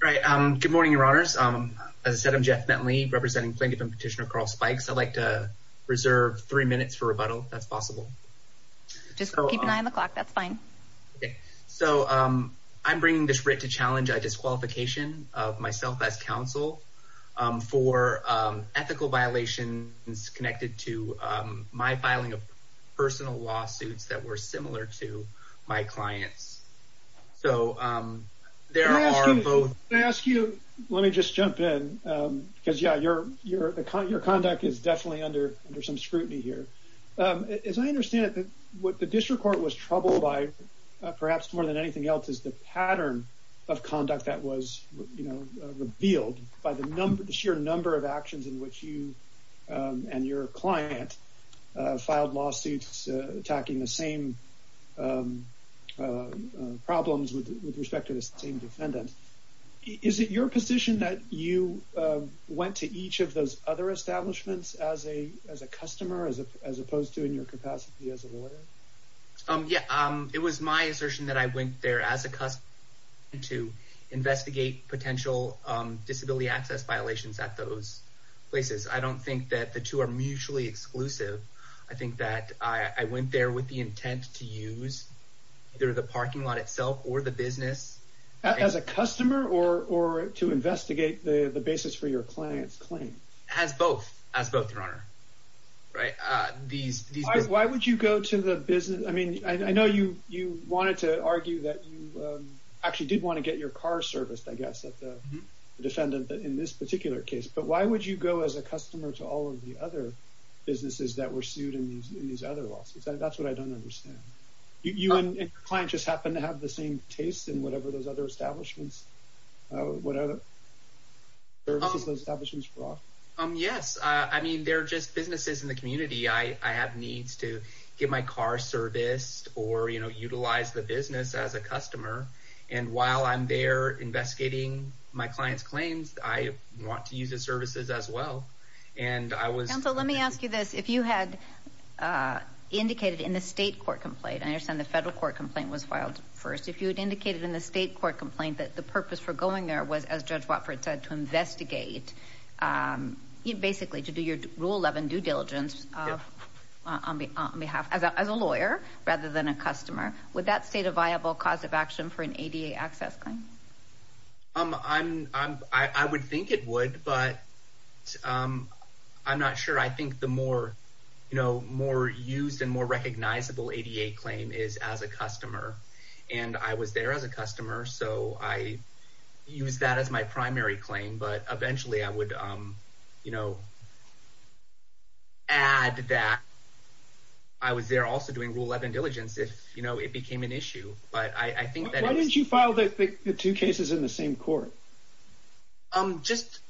Good morning, Your Honors. As I said, I'm Jeff Bentley, representing plaintiff and petitioner Karel Spikes. I'd like to reserve three minutes for rebuttal, if that's possible. Just keep an eye on the clock. That's fine. So I'm bringing this writ to challenge a disqualification of myself as counsel for ethical violations connected to my filing of personal lawsuits that were similar to my clients. So there are both... Karel Spikes v. USDC-CASD May I ask you, let me just jump in, because, yeah, your conduct is definitely under some scrutiny here. As I understand it, what the district court was troubled by, perhaps more than anything else, is the pattern of conduct that was, you know, revealed by the sheer number of actions in which you and your client filed lawsuits attacking the same problems with respect to the same defendant. Is it your position that you went to each of those other establishments as a customer, as opposed to in your capacity as a lawyer? Jeff Bentley v. USDC-CASD Yeah, it was my assertion that I went there as a customer to investigate potential disability access violations at those places. I don't think that the two are mutually exclusive. I think that I went there with the intent to use either the parking lot itself or the business. Karel Spikes v. USDC-CASD As a customer or to investigate the basis for your client's claim? Jeff Bentley v. USDC-CASD As both, as both, Your Honor. Karel Spikes v. USDC-CASD Why would you go to the business... I know you wanted to argue that you actually did want to get your car serviced, I guess, at the defendant in this particular case. But why would you go as a customer to all of the other businesses that were sued in these other lawsuits? That's what I don't understand. You and your client just happen to have the same taste in whatever those other establishments, Jeff Bentley v. USDC-CASD Yes. I mean, they're just businesses in the community. I have needs to get my car serviced or utilize the business as a customer. And while I'm there investigating my client's claims, I want to use the services as well. And I was... Counsel, let me ask you this. If you had indicated in the state court complaint, I understand the federal court complaint was filed first. If you had indicated in the state court complaint that the purpose for going there was, as Judge Watford said, to investigate, you basically to do your rule 11 due diligence on behalf as a lawyer rather than a customer, would that state a viable cause of action for an ADA access claim? I would think it would, but I'm not sure. I think the more used and more recognizable ADA claim is as a customer. And I was there as a customer, so I used that as my primary claim. But eventually I would, you know, add that I was there also doing rule 11 diligence if, you know, it became an issue. But I think that... Why didn't you file the two cases in the same court? Just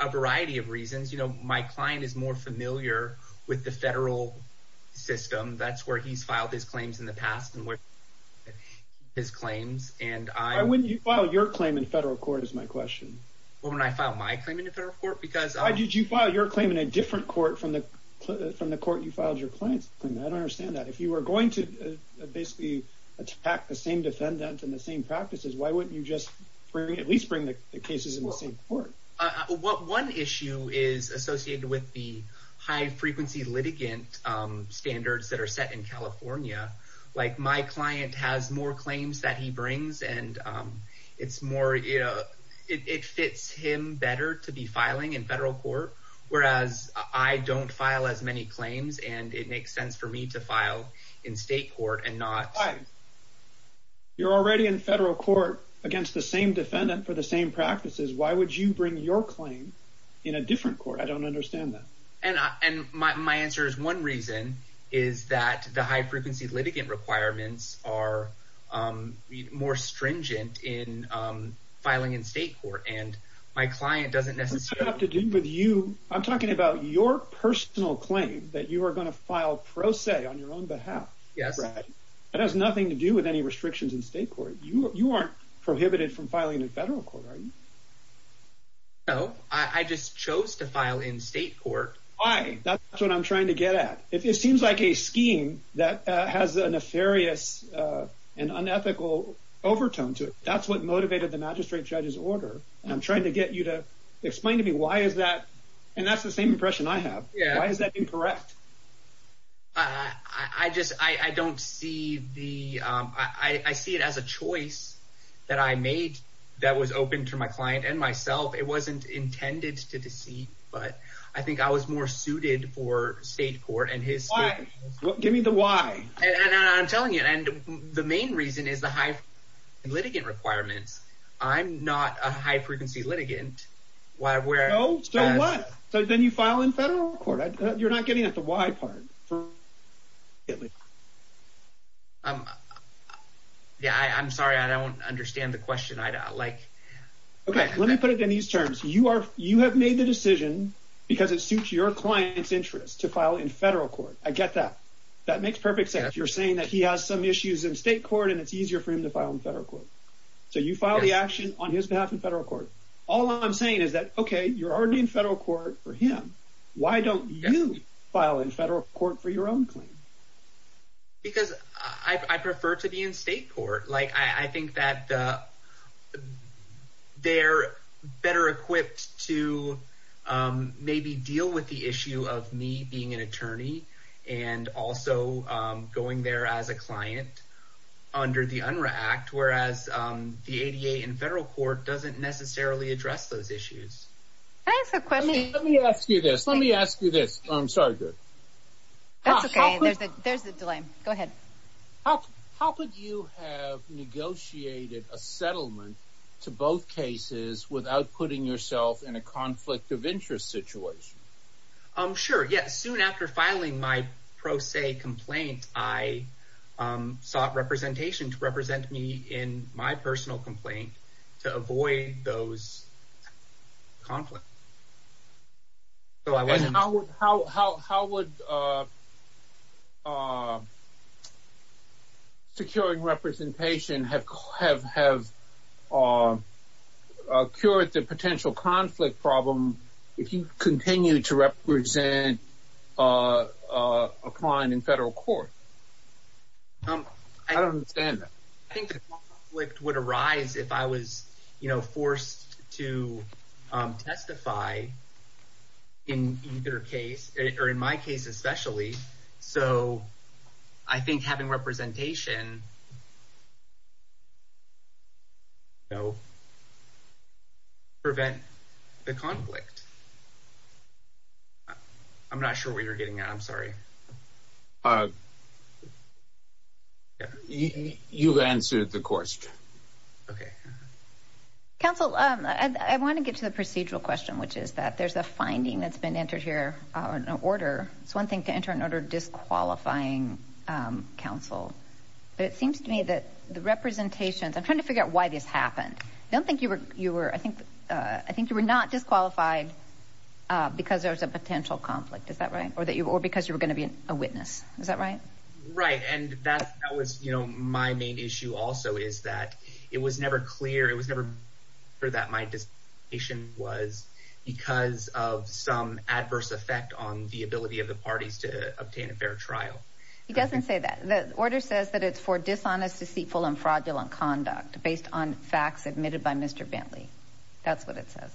a variety of reasons. You know, my client is more familiar with the federal system. That's where he's filed his claims in the past and where his claims and I... You filed your claim in federal court is my question. Well, when I filed my claim in a federal court, because... Why did you file your claim in a different court from the court you filed your client's claim? I don't understand that. If you were going to basically attack the same defendant and the same practices, why wouldn't you just at least bring the cases in the same court? One issue is associated with the high frequency litigant standards that are set in California. Like my client has more claims that he brings and it's more, you know, it fits him better to be filing in federal court, whereas I don't file as many claims and it makes sense for me to file in state court and not... You're already in federal court against the same defendant for the same practices. Why would you bring your claim in a different court? I don't understand that. And my answer is one reason is that the high frequency litigant requirements are more stringent in filing in state court. And my client doesn't necessarily... What does that have to do with you? I'm talking about your personal claim that you are going to file pro se on your own behalf. It has nothing to do with any restrictions in state court. You aren't prohibited from filing in federal court, are you? No, I just chose to file in state court. Why? That's what I'm trying to get at. It seems like a scheme that has a nefarious and unethical overtone to it. That's what motivated the magistrate judge's order. And I'm trying to get you to explain to me why is that? And that's the same impression I have. Why is that incorrect? I see it as a choice that I made that was open to my client and myself. It wasn't intended to deceive, but I think I was more suited for state court and his... Why? Give me the why. And I'm telling you, the main reason is the high litigant requirements. I'm not a high frequency litigant. No, so what? Then you file in federal court. You're not getting at the why part. Yeah, I'm sorry. I don't understand the question. Okay, let me put it in these terms. You have made the decision because it suits your client's interest to file in federal court. I get that. That makes perfect sense. You're saying that he has some issues in state court and it's easier for him to file in federal court. So you file the action on his behalf in federal court. All I'm saying is that, okay, you're already in federal court for him. Why don't you file in federal court for your own claim? Because I prefer to be in state court. I think that they're better equipped to maybe deal with the issue of me being an attorney and also going there as a client under the UNRRA Act, whereas the ADA in federal court doesn't necessarily address those issues. Can I ask a question? Let me ask you this. Let me ask you this. I'm sorry. That's okay. There's the delay. Go ahead. How could you have negotiated a settlement to both cases without putting yourself in a conflict of interest situation? Sure. Yes. Soon after filing my pro se complaint, I sought representation to represent me in my personal complaint to avoid those conflicts. How would securing representation have cured the potential conflict problem if you continue to represent a client in federal court? I don't understand that. I think the conflict would arise if I was forced to testify in either case, or in my case especially. So I think having representation would prevent the conflict. I'm not sure what you're getting at. I'm sorry. You've answered the question. Okay. Counsel, I want to get to the procedural question, which is that there's a finding that's been entered here on an order. It's one thing to enter an order disqualifying counsel, but it seems to me that the representations... I'm trying to figure out why this happened. I don't think you were... I think you were not disqualified because there was a potential conflict. Is that right? Or because you were going to be a witness. Is that right? Right. And that was my main issue also, is that it was never clear. It was never clear that my decision was because of some adverse effect on the ability of the parties to obtain a fair trial. He doesn't say that. The order says that it's for dishonest, deceitful, and fraudulent conduct based on facts admitted by Mr. Bentley. That's what it says.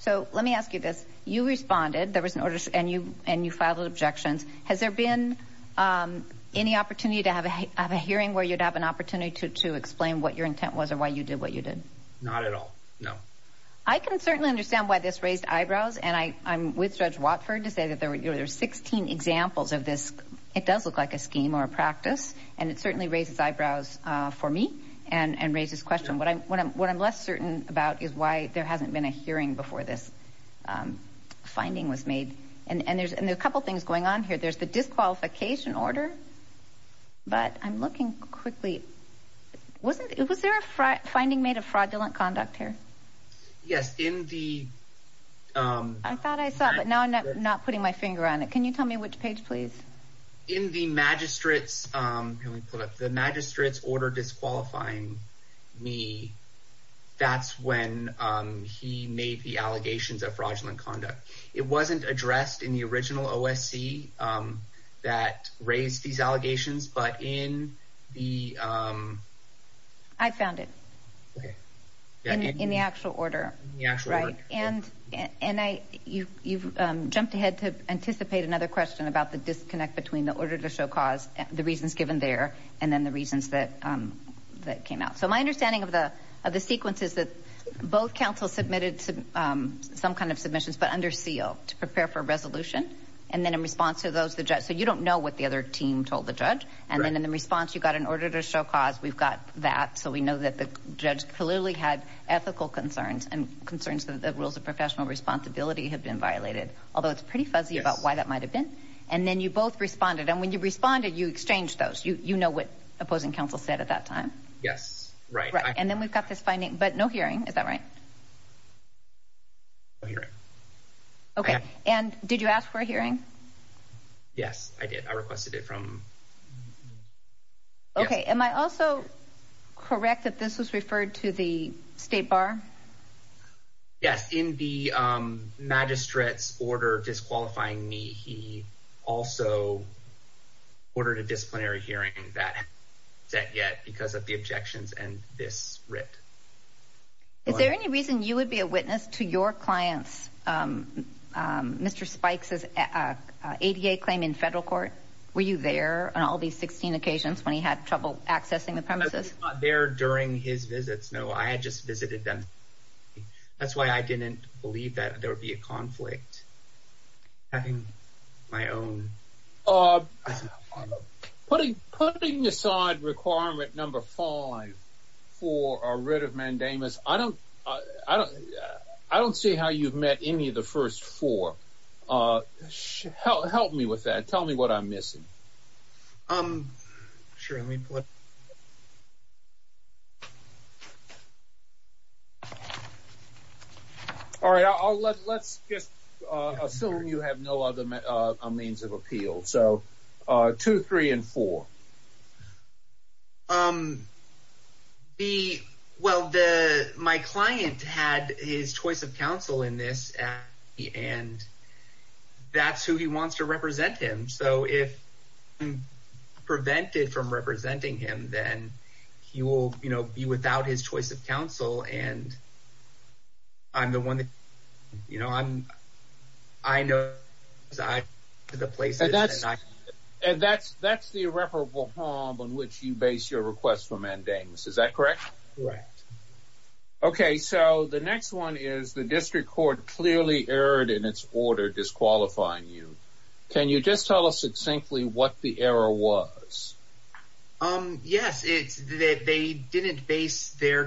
So let me ask you this. You responded. There was an order and you filed objections. Has there been any opportunity to have a hearing where you'd have an opportunity to explain what your intent was or why you did what you did? Not at all. No. I can certainly understand why this raised eyebrows. And I'm with Judge Watford to say that there were 16 examples of this. It does look like a scheme or a practice. And it certainly raises eyebrows for me and raises questions. What I'm less certain about is why there hasn't been a hearing before this finding was made. And there's a couple of things going on here. There's the disqualification order. But I'm looking quickly. Was there a finding made of fraudulent conduct here? Yes. I thought I saw it, but now I'm not putting my finger on it. Can you tell me which page, please? In the magistrate's order disqualifying me, that's when he made the allegations of fraudulent conduct. It wasn't addressed in the original OSC that raised these allegations. I found it in the actual order. And you've jumped ahead to anticipate another question about the disconnect between the order to show cause, the reasons given there, and then the reasons that came out. So my understanding of the sequence is that both counsels submitted some kind of submissions, but under seal to prepare for resolution. And then in response to those, so you don't know what the other team told the judge. And then in response, you got an order to show cause. We've got that. We know that the judge clearly had ethical concerns and concerns that the rules of professional responsibility have been violated, although it's pretty fuzzy about why that might have been. And then you both responded. And when you responded, you exchanged those. You know what opposing counsel said at that time? Yes. Right. And then we've got this finding, but no hearing. Is that right? No hearing. Okay. And did you ask for a hearing? Yes, I did. I requested it from... Okay. Am I also correct that this was referred to the state bar? Yes. In the magistrate's order disqualifying me, he also ordered a disciplinary hearing that hasn't been set yet because of the objections and this writ. Is there any reason you would be a witness to your client's, Mr. Spikes' ADA claim in federal court? Were you there on all these 16 occasions when he had trouble accessing the premises? I was not there during his visits. No, I had just visited them. That's why I didn't believe that there would be a conflict. Having my own... Putting aside requirement number five for a writ of mandamus, I don't see how you've met any of the first four. Help me with that. Tell me what I'm missing. All right. Let's just assume you have no other means of appeal. So two, three, and four. Well, my client had his choice of counsel in this and that's who he wants to represent him. So if I'm prevented from representing him, then he will be without his choice of counsel. And I'm the one that... I know... And that's the irreparable harm on which you base your request for mandamus. Is that correct? Correct. Okay. So the next one is the district court clearly erred in its order disqualifying you. Can you just tell us succinctly what the error was? Yes. It's that they didn't base their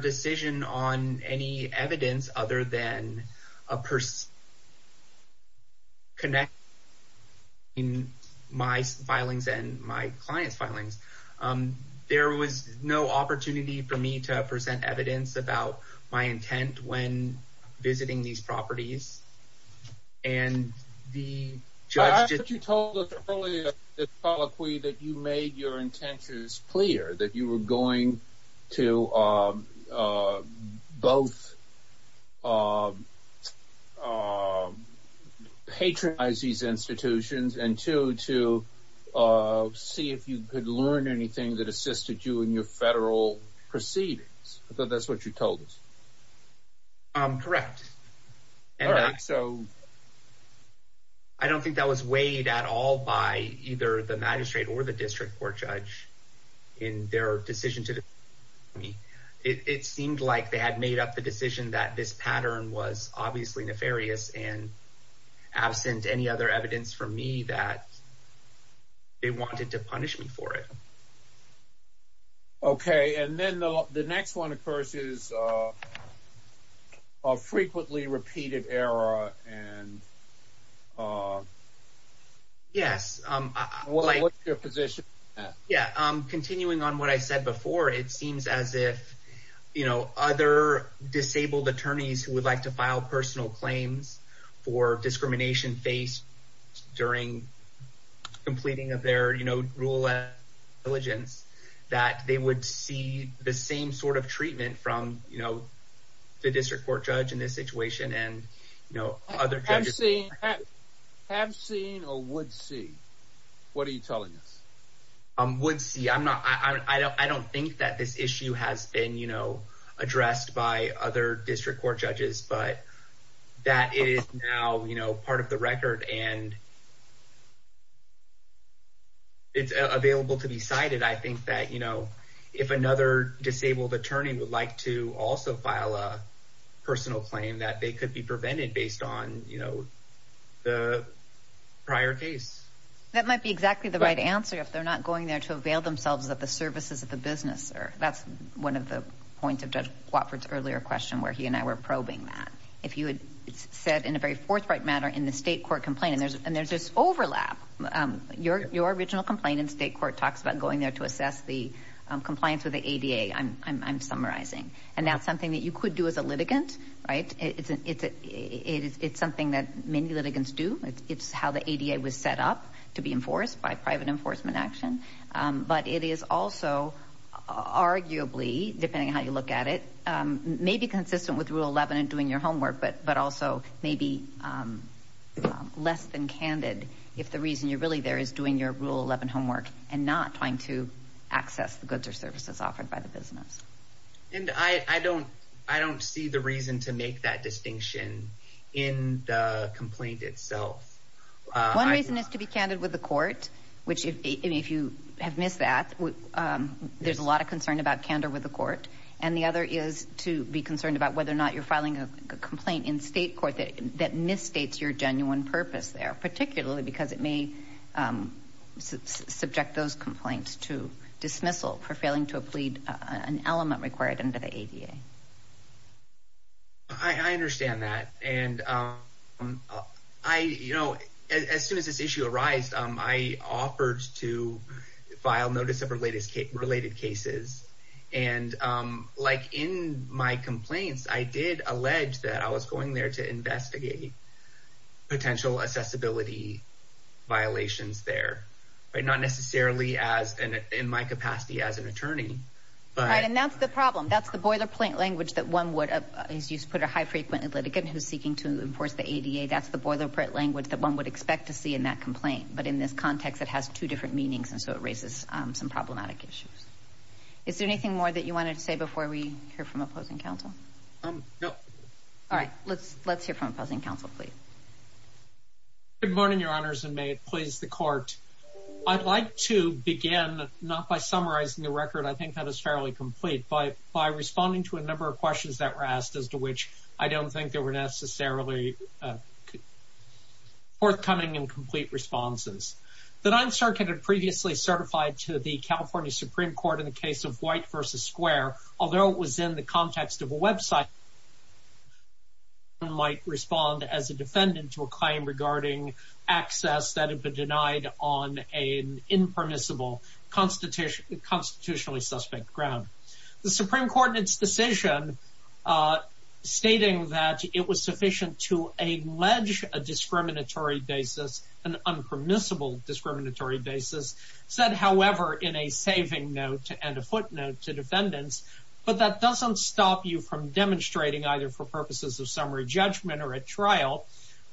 my filings and my client's filings. There was no opportunity for me to present evidence about my intent when visiting these properties. And the judge... But you told us earlier that you made your intentions clear that you were going to both patronize these institutions and two, to see if you could learn anything that assisted you in your federal proceedings. I thought that's what you told us. Correct. All right. So I don't think that was weighed at all by either the magistrate or the district court judge in their decision to me. It seemed like they had made up the decision that this pattern was obviously nefarious and absent any other evidence for me that they wanted to punish me for it. Okay. And then the next one, of course, is a frequently repeated error. And what's your position on that? Yes. Continuing on what I said before, it seems as if other disabled attorneys who would like to file personal claims for discrimination faced during completing of their rule of diligence, that they would see the same sort of treatment from the district court judge in this situation and other judges. Have seen or would see? What are you telling us? Would see. I don't think that this issue has been addressed by other district court judges, but that is now part of the record and it's available to be cited. I think that if another disabled attorney would like to also file a personal claim that they could be prevented based on the prior case. That might be exactly the right answer if they're not going there to avail themselves of the services of the business. That's one of the points of Judge Watford's earlier question where he and I were probing that. If you had said in a very forthright matter in the state court complaint, and there's this overlap. Your original complaint in state court talks about going there to assess the compliance with the ADA, I'm summarizing. And that's something that you could do as a litigant, right? It's something that many litigants do. It's how the ADA was set up to be enforced by private enforcement action. But it is also arguably, depending on how you look at it, maybe consistent with Rule 11 and doing your homework, but also maybe less than candid if the reason you're really there is doing your Rule 11 homework and not trying to access the goods or services offered by the business. And I don't see the reason to make that distinction in the complaint itself. One reason is to be candid with the court, which if you have missed that, there's a lot of concern about candor with the court. And the other is to be concerned about whether or not you're filing a complaint in state court that misstates your genuine purpose there, particularly because it may subject those complaints to dismissal for failing to plead an element required under the ADA. I understand that. And as soon as this issue arised, I offered to file notice of related cases. And like in my complaints, I did allege that I was going there to investigate potential accessibility violations there, but not necessarily in my capacity as an attorney. And that's the problem. That's the boilerplate language that one would, as you put a high frequent litigant who's seeking to enforce the ADA, that's the boilerplate language that one would expect to see in that complaint. But in this context, it has two different meanings. And so it raises some problematic issues. Is there anything more that you wanted to say before we hear from counsel, please? Good morning, Your Honors, and may it please the court. I'd like to begin, not by summarizing the record, I think that is fairly complete, but by responding to a number of questions that were asked as to which I don't think there were necessarily forthcoming and complete responses. The Ninth Circuit had previously certified to the California Supreme Court in the context of a website that one might respond as a defendant to a claim regarding access that had been denied on an impermissible constitutionally suspect ground. The Supreme Court in its decision stating that it was sufficient to allege a discriminatory basis, an impermissible discriminatory basis, said, however, in a saving note and a footnote to defendants, but that doesn't stop you from demonstrating either for purposes of summary judgment or a trial,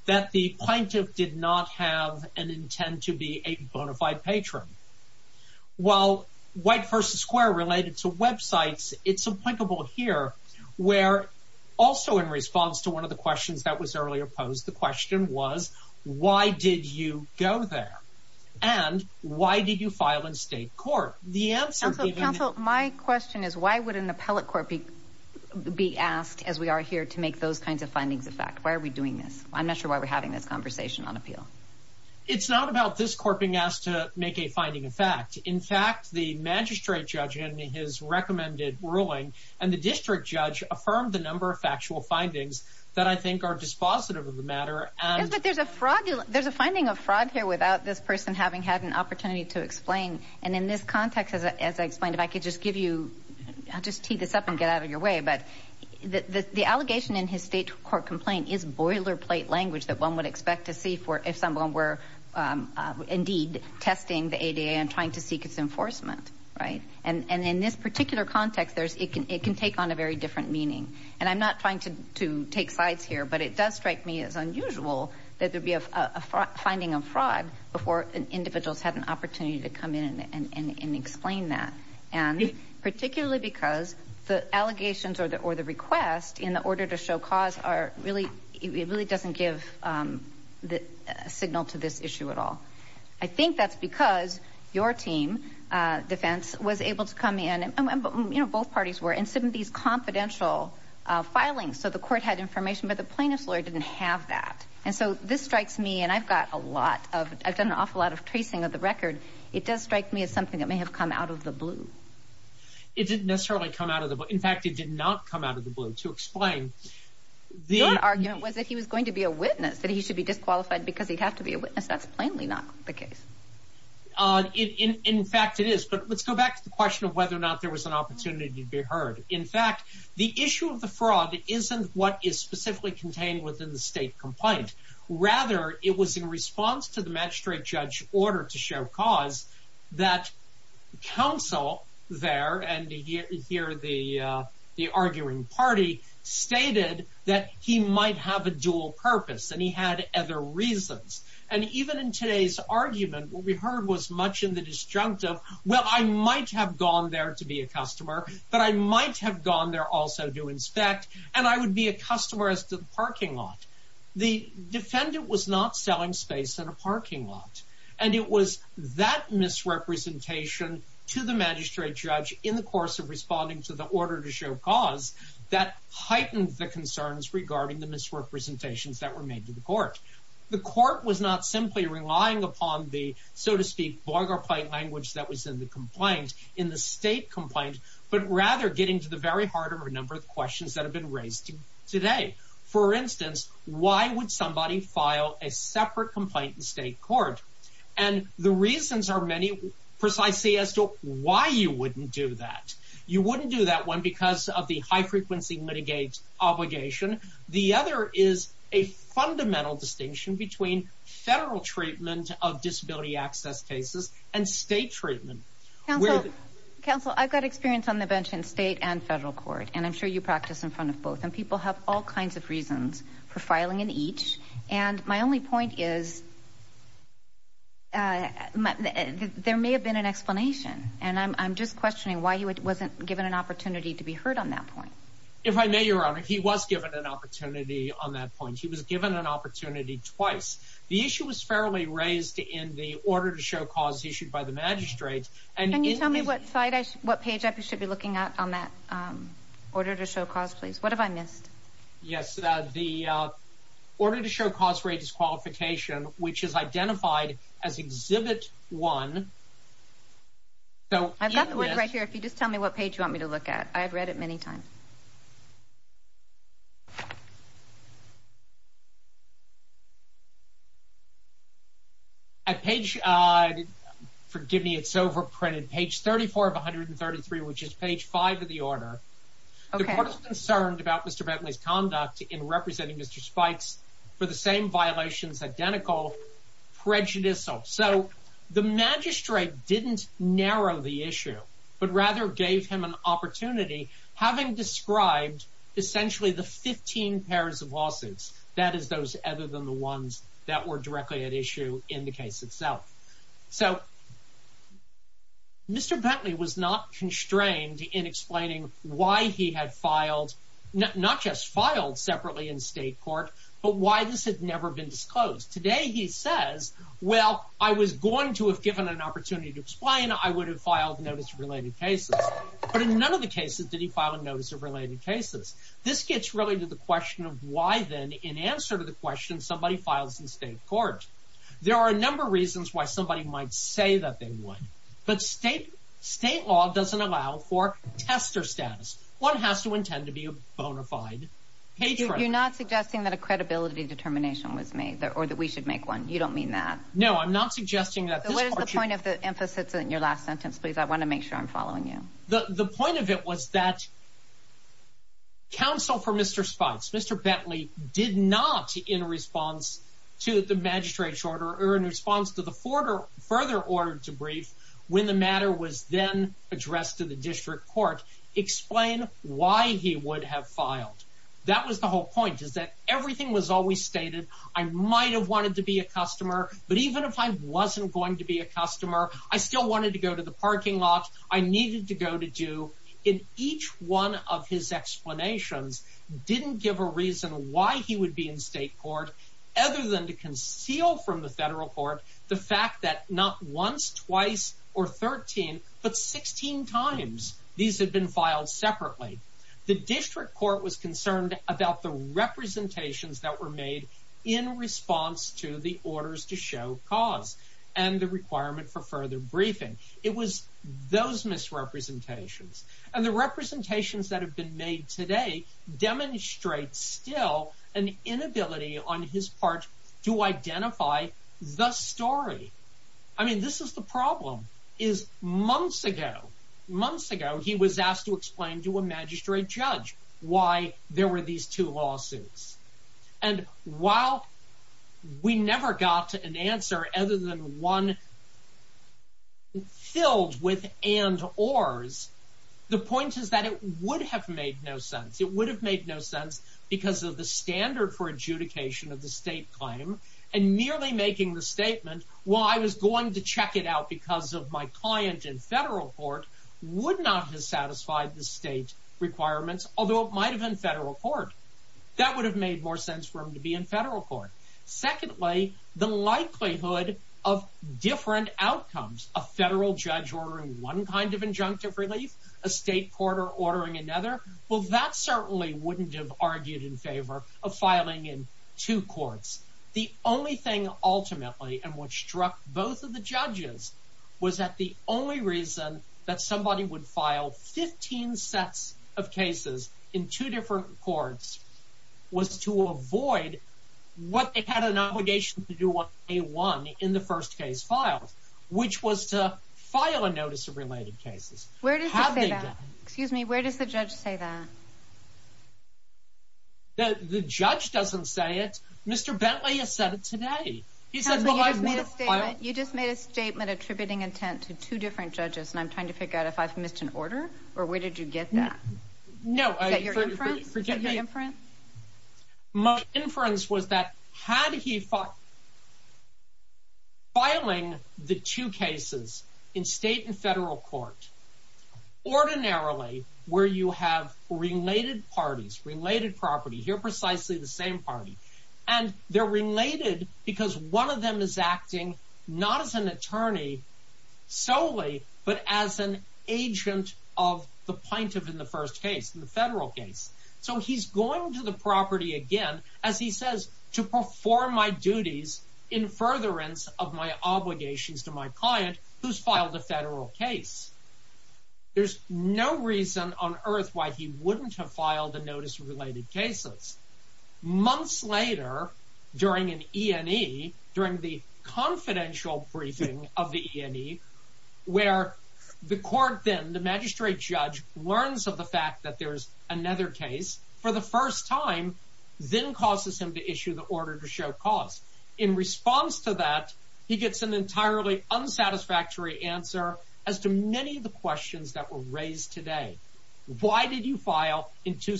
that the plaintiff did not have an intent to be a bona fide patron. While white versus square related to websites, it's applicable here, where also in response to one of the questions that was earlier posed, the question was, why did you go there? And why did you file in state court? The answer, counsel, my question is, why would an appellate court be asked as we are here to make those kinds of findings of fact? Why are we doing this? I'm not sure why we're having this conversation on appeal. It's not about this court being asked to make a finding of fact. In fact, the magistrate judge in his recommended ruling and the district judge affirmed the number of factual findings that I think are dispositive of the matter. But there's a fraud. There's a fraud here without this person having had an opportunity to explain. And in this context, as I explained, if I could just give you, I'll just tee this up and get out of your way, but the allegation in his state court complaint is boilerplate language that one would expect to see for if someone were indeed testing the ADA and trying to seek its enforcement, right? And in this particular context, it can take on a very different meaning. And I'm not trying to take sides here, but it does strike me as unusual that there'd be a finding of fraud before individuals had an opportunity to come in and explain that. And particularly because the allegations or the request in order to show cause are really, it really doesn't give the signal to this issue at all. I think that's because your team, defense, was able to come in, both parties were in some of these confidential filings. So the court had information, but the plaintiff's lawyer didn't have that. And so this strikes me, and I've got a lot of, I've done an awful lot of tracing of the record. It does strike me as something that may have come out of the blue. It didn't necessarily come out of the blue. In fact, it did not come out of the blue to explain. The argument was that he was going to be a witness, that he should be disqualified because he'd have to be a witness. That's plainly not the case. In fact, it is. But let's go back to the question of whether or not there was an opportunity to be heard. In fact, the issue of the fraud isn't what is specifically contained within the state complaint. Rather, it was in response to the magistrate judge's order to show cause that counsel there, and here the arguing party, stated that he might have a dual purpose and he had other reasons. And even in today's argument, what we heard was much in the disjunct of, well, I might have gone there to be a customer, but I might have gone there also to inspect, and I would be a customer as to the parking lot. The defendant was not selling space in a parking lot. And it was that misrepresentation to the magistrate judge in the course of responding to the order to show cause that heightened the concerns regarding the misrepresentations that were made to the court. The court was not simply relying upon the, so to speak, vulgar plain language that was in the complaint, in the state complaint, but rather getting to the very heart of a number of questions that have been raised today. For instance, why would somebody file a separate complaint in state court? And the reasons are many precisely as to why you wouldn't do that. You wouldn't do that one because of the high-frequency obligation. The other is a fundamental distinction between federal treatment of disability access cases and state treatment. Counsel, I've got experience on the bench in state and federal court, and I'm sure you practice in front of both, and people have all kinds of reasons for filing in each. And my only point is there may have been an explanation, and I'm just questioning why he wasn't given an opportunity to be heard on that point. If I may, Your Honor, he was given an opportunity on that point. He was given an opportunity twice. The issue was fairly raised in the order to show cause issued by the magistrate. Can you tell me what page I should be looking at on that order to show cause, please? What have I missed? Yes, the order to show cause rate disqualification, which is identified as Exhibit 1. I've got the one right here. If you just tell me what page you want me to look at. I've read it many times. Forgive me, it's overprinted. Page 34 of 133, which is page 5 of the order. The court is concerned about Mr. Bentley's conduct in representing Mr. Spikes for the same violations, identical prejudicial. So the magistrate didn't narrow the issue, but rather gave him an opportunity, having described essentially the 15 pairs of lawsuits, that is, those other than the ones that were directly at issue in the case itself. So Mr. Bentley was not constrained in explaining why he had filed, not just filed separately in state court, but why this had never been disclosed. Today he says, well, I was going to have given an opportunity to explain, I would have filed notice of related cases. But in none of the cases did he file a notice of related cases. This gets really to the question of why then, in answer to the question, somebody files in state court. There are a number of reasons why somebody might say that they would. But state law doesn't allow for tester status. One has to intend to be a bona fide patron. You're not suggesting that a credibility determination was made, or that we should make one. You don't mean that. No, I'm not suggesting that. What is the point of the emphasis in your last sentence, please? I want to make sure I'm following you. The point of it was that counsel for Mr. Spence, Mr. Bentley did not, in response to the magistrate's order, or in response to the further order to brief, when the matter was then addressed to the district court, explain why he would have filed. That was the whole point, is that everything was always stated. I might have wanted to be a needed to go to do in each one of his explanations didn't give a reason why he would be in state court, other than to conceal from the federal court the fact that not once, twice, or 13, but 16 times these had been filed separately. The district court was concerned about the representations that were made in response to the orders to show cause and the requirement for those misrepresentations. And the representations that have been made today demonstrate still an inability on his part to identify the story. I mean, this is the problem, is months ago, months ago, he was asked to explain to a magistrate judge why there were these two lawsuits. And while we never got to an answer other than one filled with and ors, the point is that it would have made no sense. It would have made no sense because of the standard for adjudication of the state claim, and merely making the statement, well, I was going to check it out because of my client in federal court, would not have satisfied the state requirements, although it might have been federal court. That would have made more sense for him to be in federal court. Secondly, the likelihood of different outcomes, a federal judge ordering one kind of injunctive relief, a state court ordering another, well, that certainly wouldn't have argued in favor of filing in two courts. The only thing, ultimately, and what struck both of the judges was that the only reason that somebody would file 15 sets of cases in two different courts was to avoid what they had an obligation to do on day one in the first case filed, which was to file a notice of related cases. Where does the judge say that? The judge doesn't say it. Mr. Bentley has said it today. You just made a statement attributing intent to two different judges, and I'm trying to figure out if I've missed an order, or where did you get that? Is that your inference? My inference was that had he thought filing the two cases in state and federal court, ordinarily, where you have related parties, related property, here precisely the same party, and they're related because one of them is acting not as an attorney solely, but as an agent of the plaintiff in the first case, in the federal case. So he's going to the property again, as he says, to perform my duties in furtherance of my obligations to my client who's filed a federal case. There's no reason on earth why he wouldn't have filed a notice of related cases. Months later, during an E&E, during the confidential briefing of the E&E, where the court then, the magistrate judge, learns of the fact that there's another case, for the first time, then causes him to issue the order to show cause. In response to that, he gets an entirely unsatisfactory answer as to many of the questions that were raised today. Why did you file in two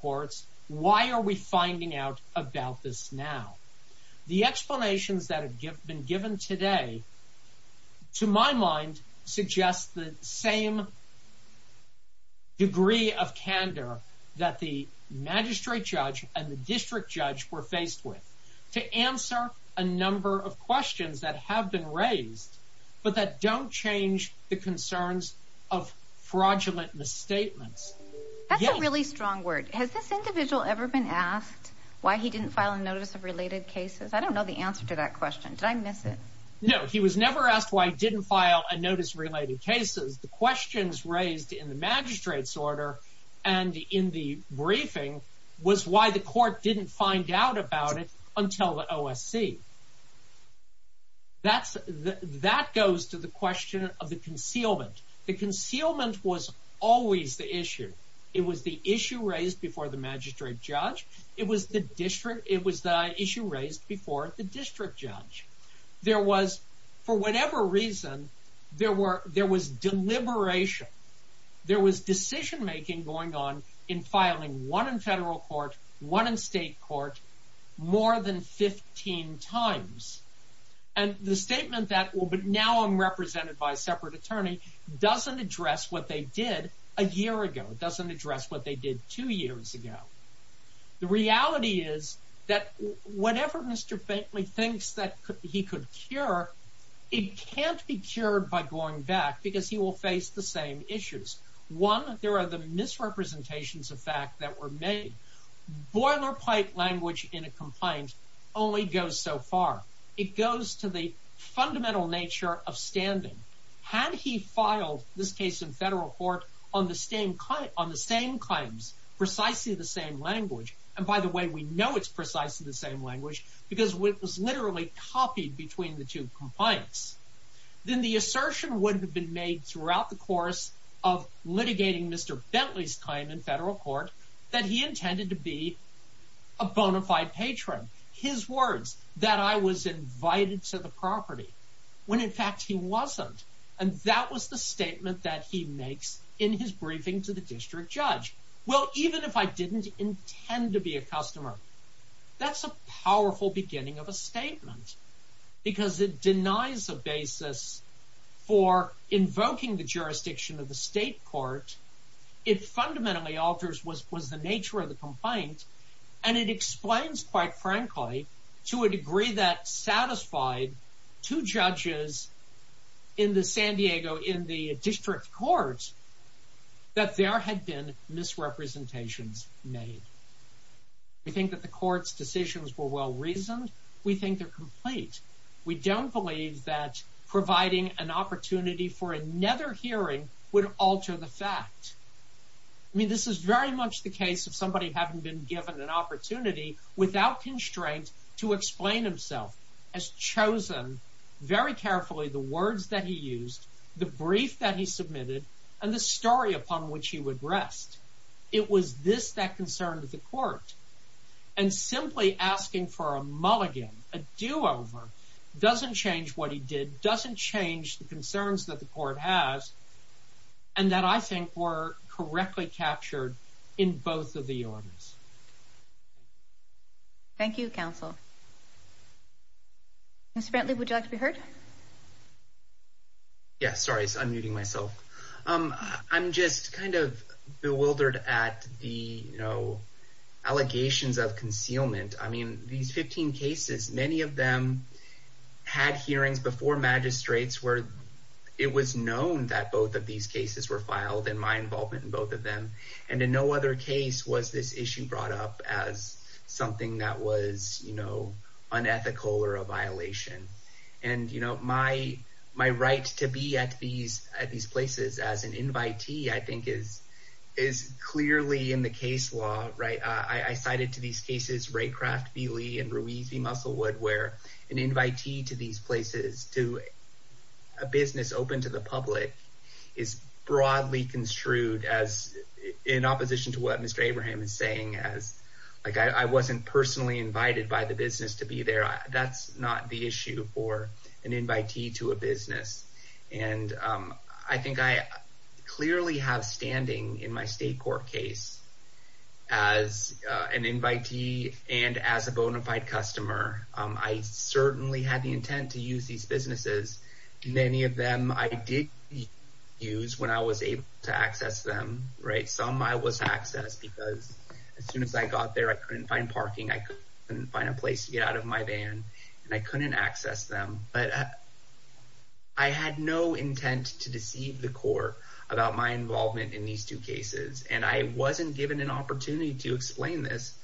courts? Why are we finding out about this now? The explanations that have been given today, to my mind, suggest the same degree of candor that the magistrate judge and the district judge were faced with to answer a number of questions that have been raised, but that don't change the concerns of fraudulent misstatements. That's a really strong word. Has this individual ever been asked why he didn't file a notice of related cases? I don't know the answer to that question. Did I miss it? No. He was never asked why he didn't file a notice of related cases. The questions raised in the magistrate's order and in the briefing was why the court didn't find out about it until the OSC. That goes to the question of the concealment. The concealment was always the issue. It was the issue raised before the magistrate judge. It was the issue raised before the district judge. For whatever reason, there was deliberation. There was decision-making going on in filing one in federal court, one in state court, more than 15 times. The statement that, but now I'm represented by a separate attorney, doesn't address what they did a year ago. It doesn't address what they did two years ago. The reality is that whatever Mr. Bateley thinks that he could cure, it can't be cured by going back because he will face the same issues. One, there are the misrepresentations of fact that were made. Boilerplate language in a complaint only goes so far. It goes to the fundamental nature of standing. Had he filed this case in federal court on the same claims, precisely the same language, and by the way, we know it's precisely the same language because it was copied between the two complaints, then the assertion would have been made throughout the course of litigating Mr. Bateley's claim in federal court that he intended to be a bona fide patron. His words, that I was invited to the property, when in fact he wasn't. And that was the statement that he makes in his briefing to the district judge. Well, even if I didn't intend to be a customer, that's a powerful beginning of a statement because it denies a basis for invoking the jurisdiction of the state court. It fundamentally alters what was the nature of the complaint and it explains quite frankly to a degree that satisfied two judges in the San Diego, in the district court, that there had been misrepresentations made. We think that the court's decisions were well reasoned. We think they're complete. We don't believe that providing an opportunity for another hearing would alter the fact. I mean, this is very much the case of somebody having been given an opportunity without constraint to explain himself, has chosen very briefly that he submitted and the story upon which he would rest. It was this that concerned the court. And simply asking for a mulligan, a do-over, doesn't change what he did, doesn't change the concerns that the court has, and that I think were correctly captured in both of the orders. Thank you, counsel. Mr. Bentley, would you like to be heard? Yeah, sorry, I'm muting myself. I'm just kind of bewildered at the, you know, allegations of concealment. I mean, these 15 cases, many of them had hearings before magistrates where it was known that both of these cases were filed and my involvement in both of them. And in no other case was this issue brought up as something that was, you know, unethical or a violation. And, you know, my right to be at these places as an invitee, I think, is clearly in the case law, right? I cited to these cases Raycraft v. Lee and Ruiz v. Musselwood, where an invitee to these places, to a business open to the public, is broadly construed as, in opposition to what Mr. Abraham is saying, as, like, I wasn't personally invited by the business to be there. That's not the issue for an invitee to a business. And I think I clearly have standing in my state court case as an invitee and as a bona fide customer. I certainly had the intent to use these businesses. Many of them I did use when I was able to access them, right? Some I was able to get out of my van and I couldn't access them. But I had no intent to deceive the court about my involvement in these two cases. And I wasn't given an opportunity to explain this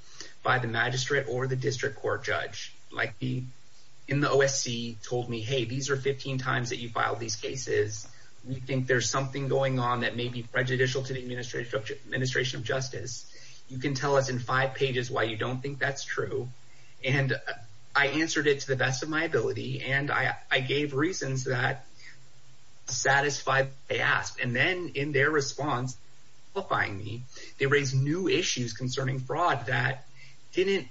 by the magistrate or the district court judge. Like, in the OSC told me, hey, these are 15 times that you filed these cases. We think there's something going on that may be prejudicial to the administration of justice. You can tell us in five pages why you don't think that's true. And I answered it to the best of my ability. And I gave reasons that satisfied what they asked. And then in their response, qualifying me, they raised new issues concerning fraud that didn't,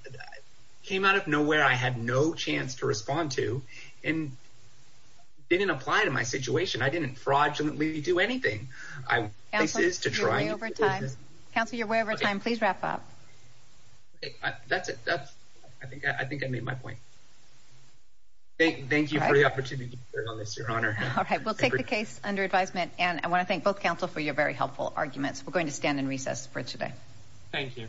came out of nowhere. I had no chance to respond to and didn't apply to my situation. I didn't fraudulently do anything. I, this is to try over time. Counselor, you're way over time. Please wrap up. Okay, that's it. That's, I think, I think I made my point. Thank you for the opportunity to share on this, Your Honor. All right, we'll take the case under advisement. And I want to thank both counsel for your very helpful arguments. We're going to stand in recess for today. Thank you.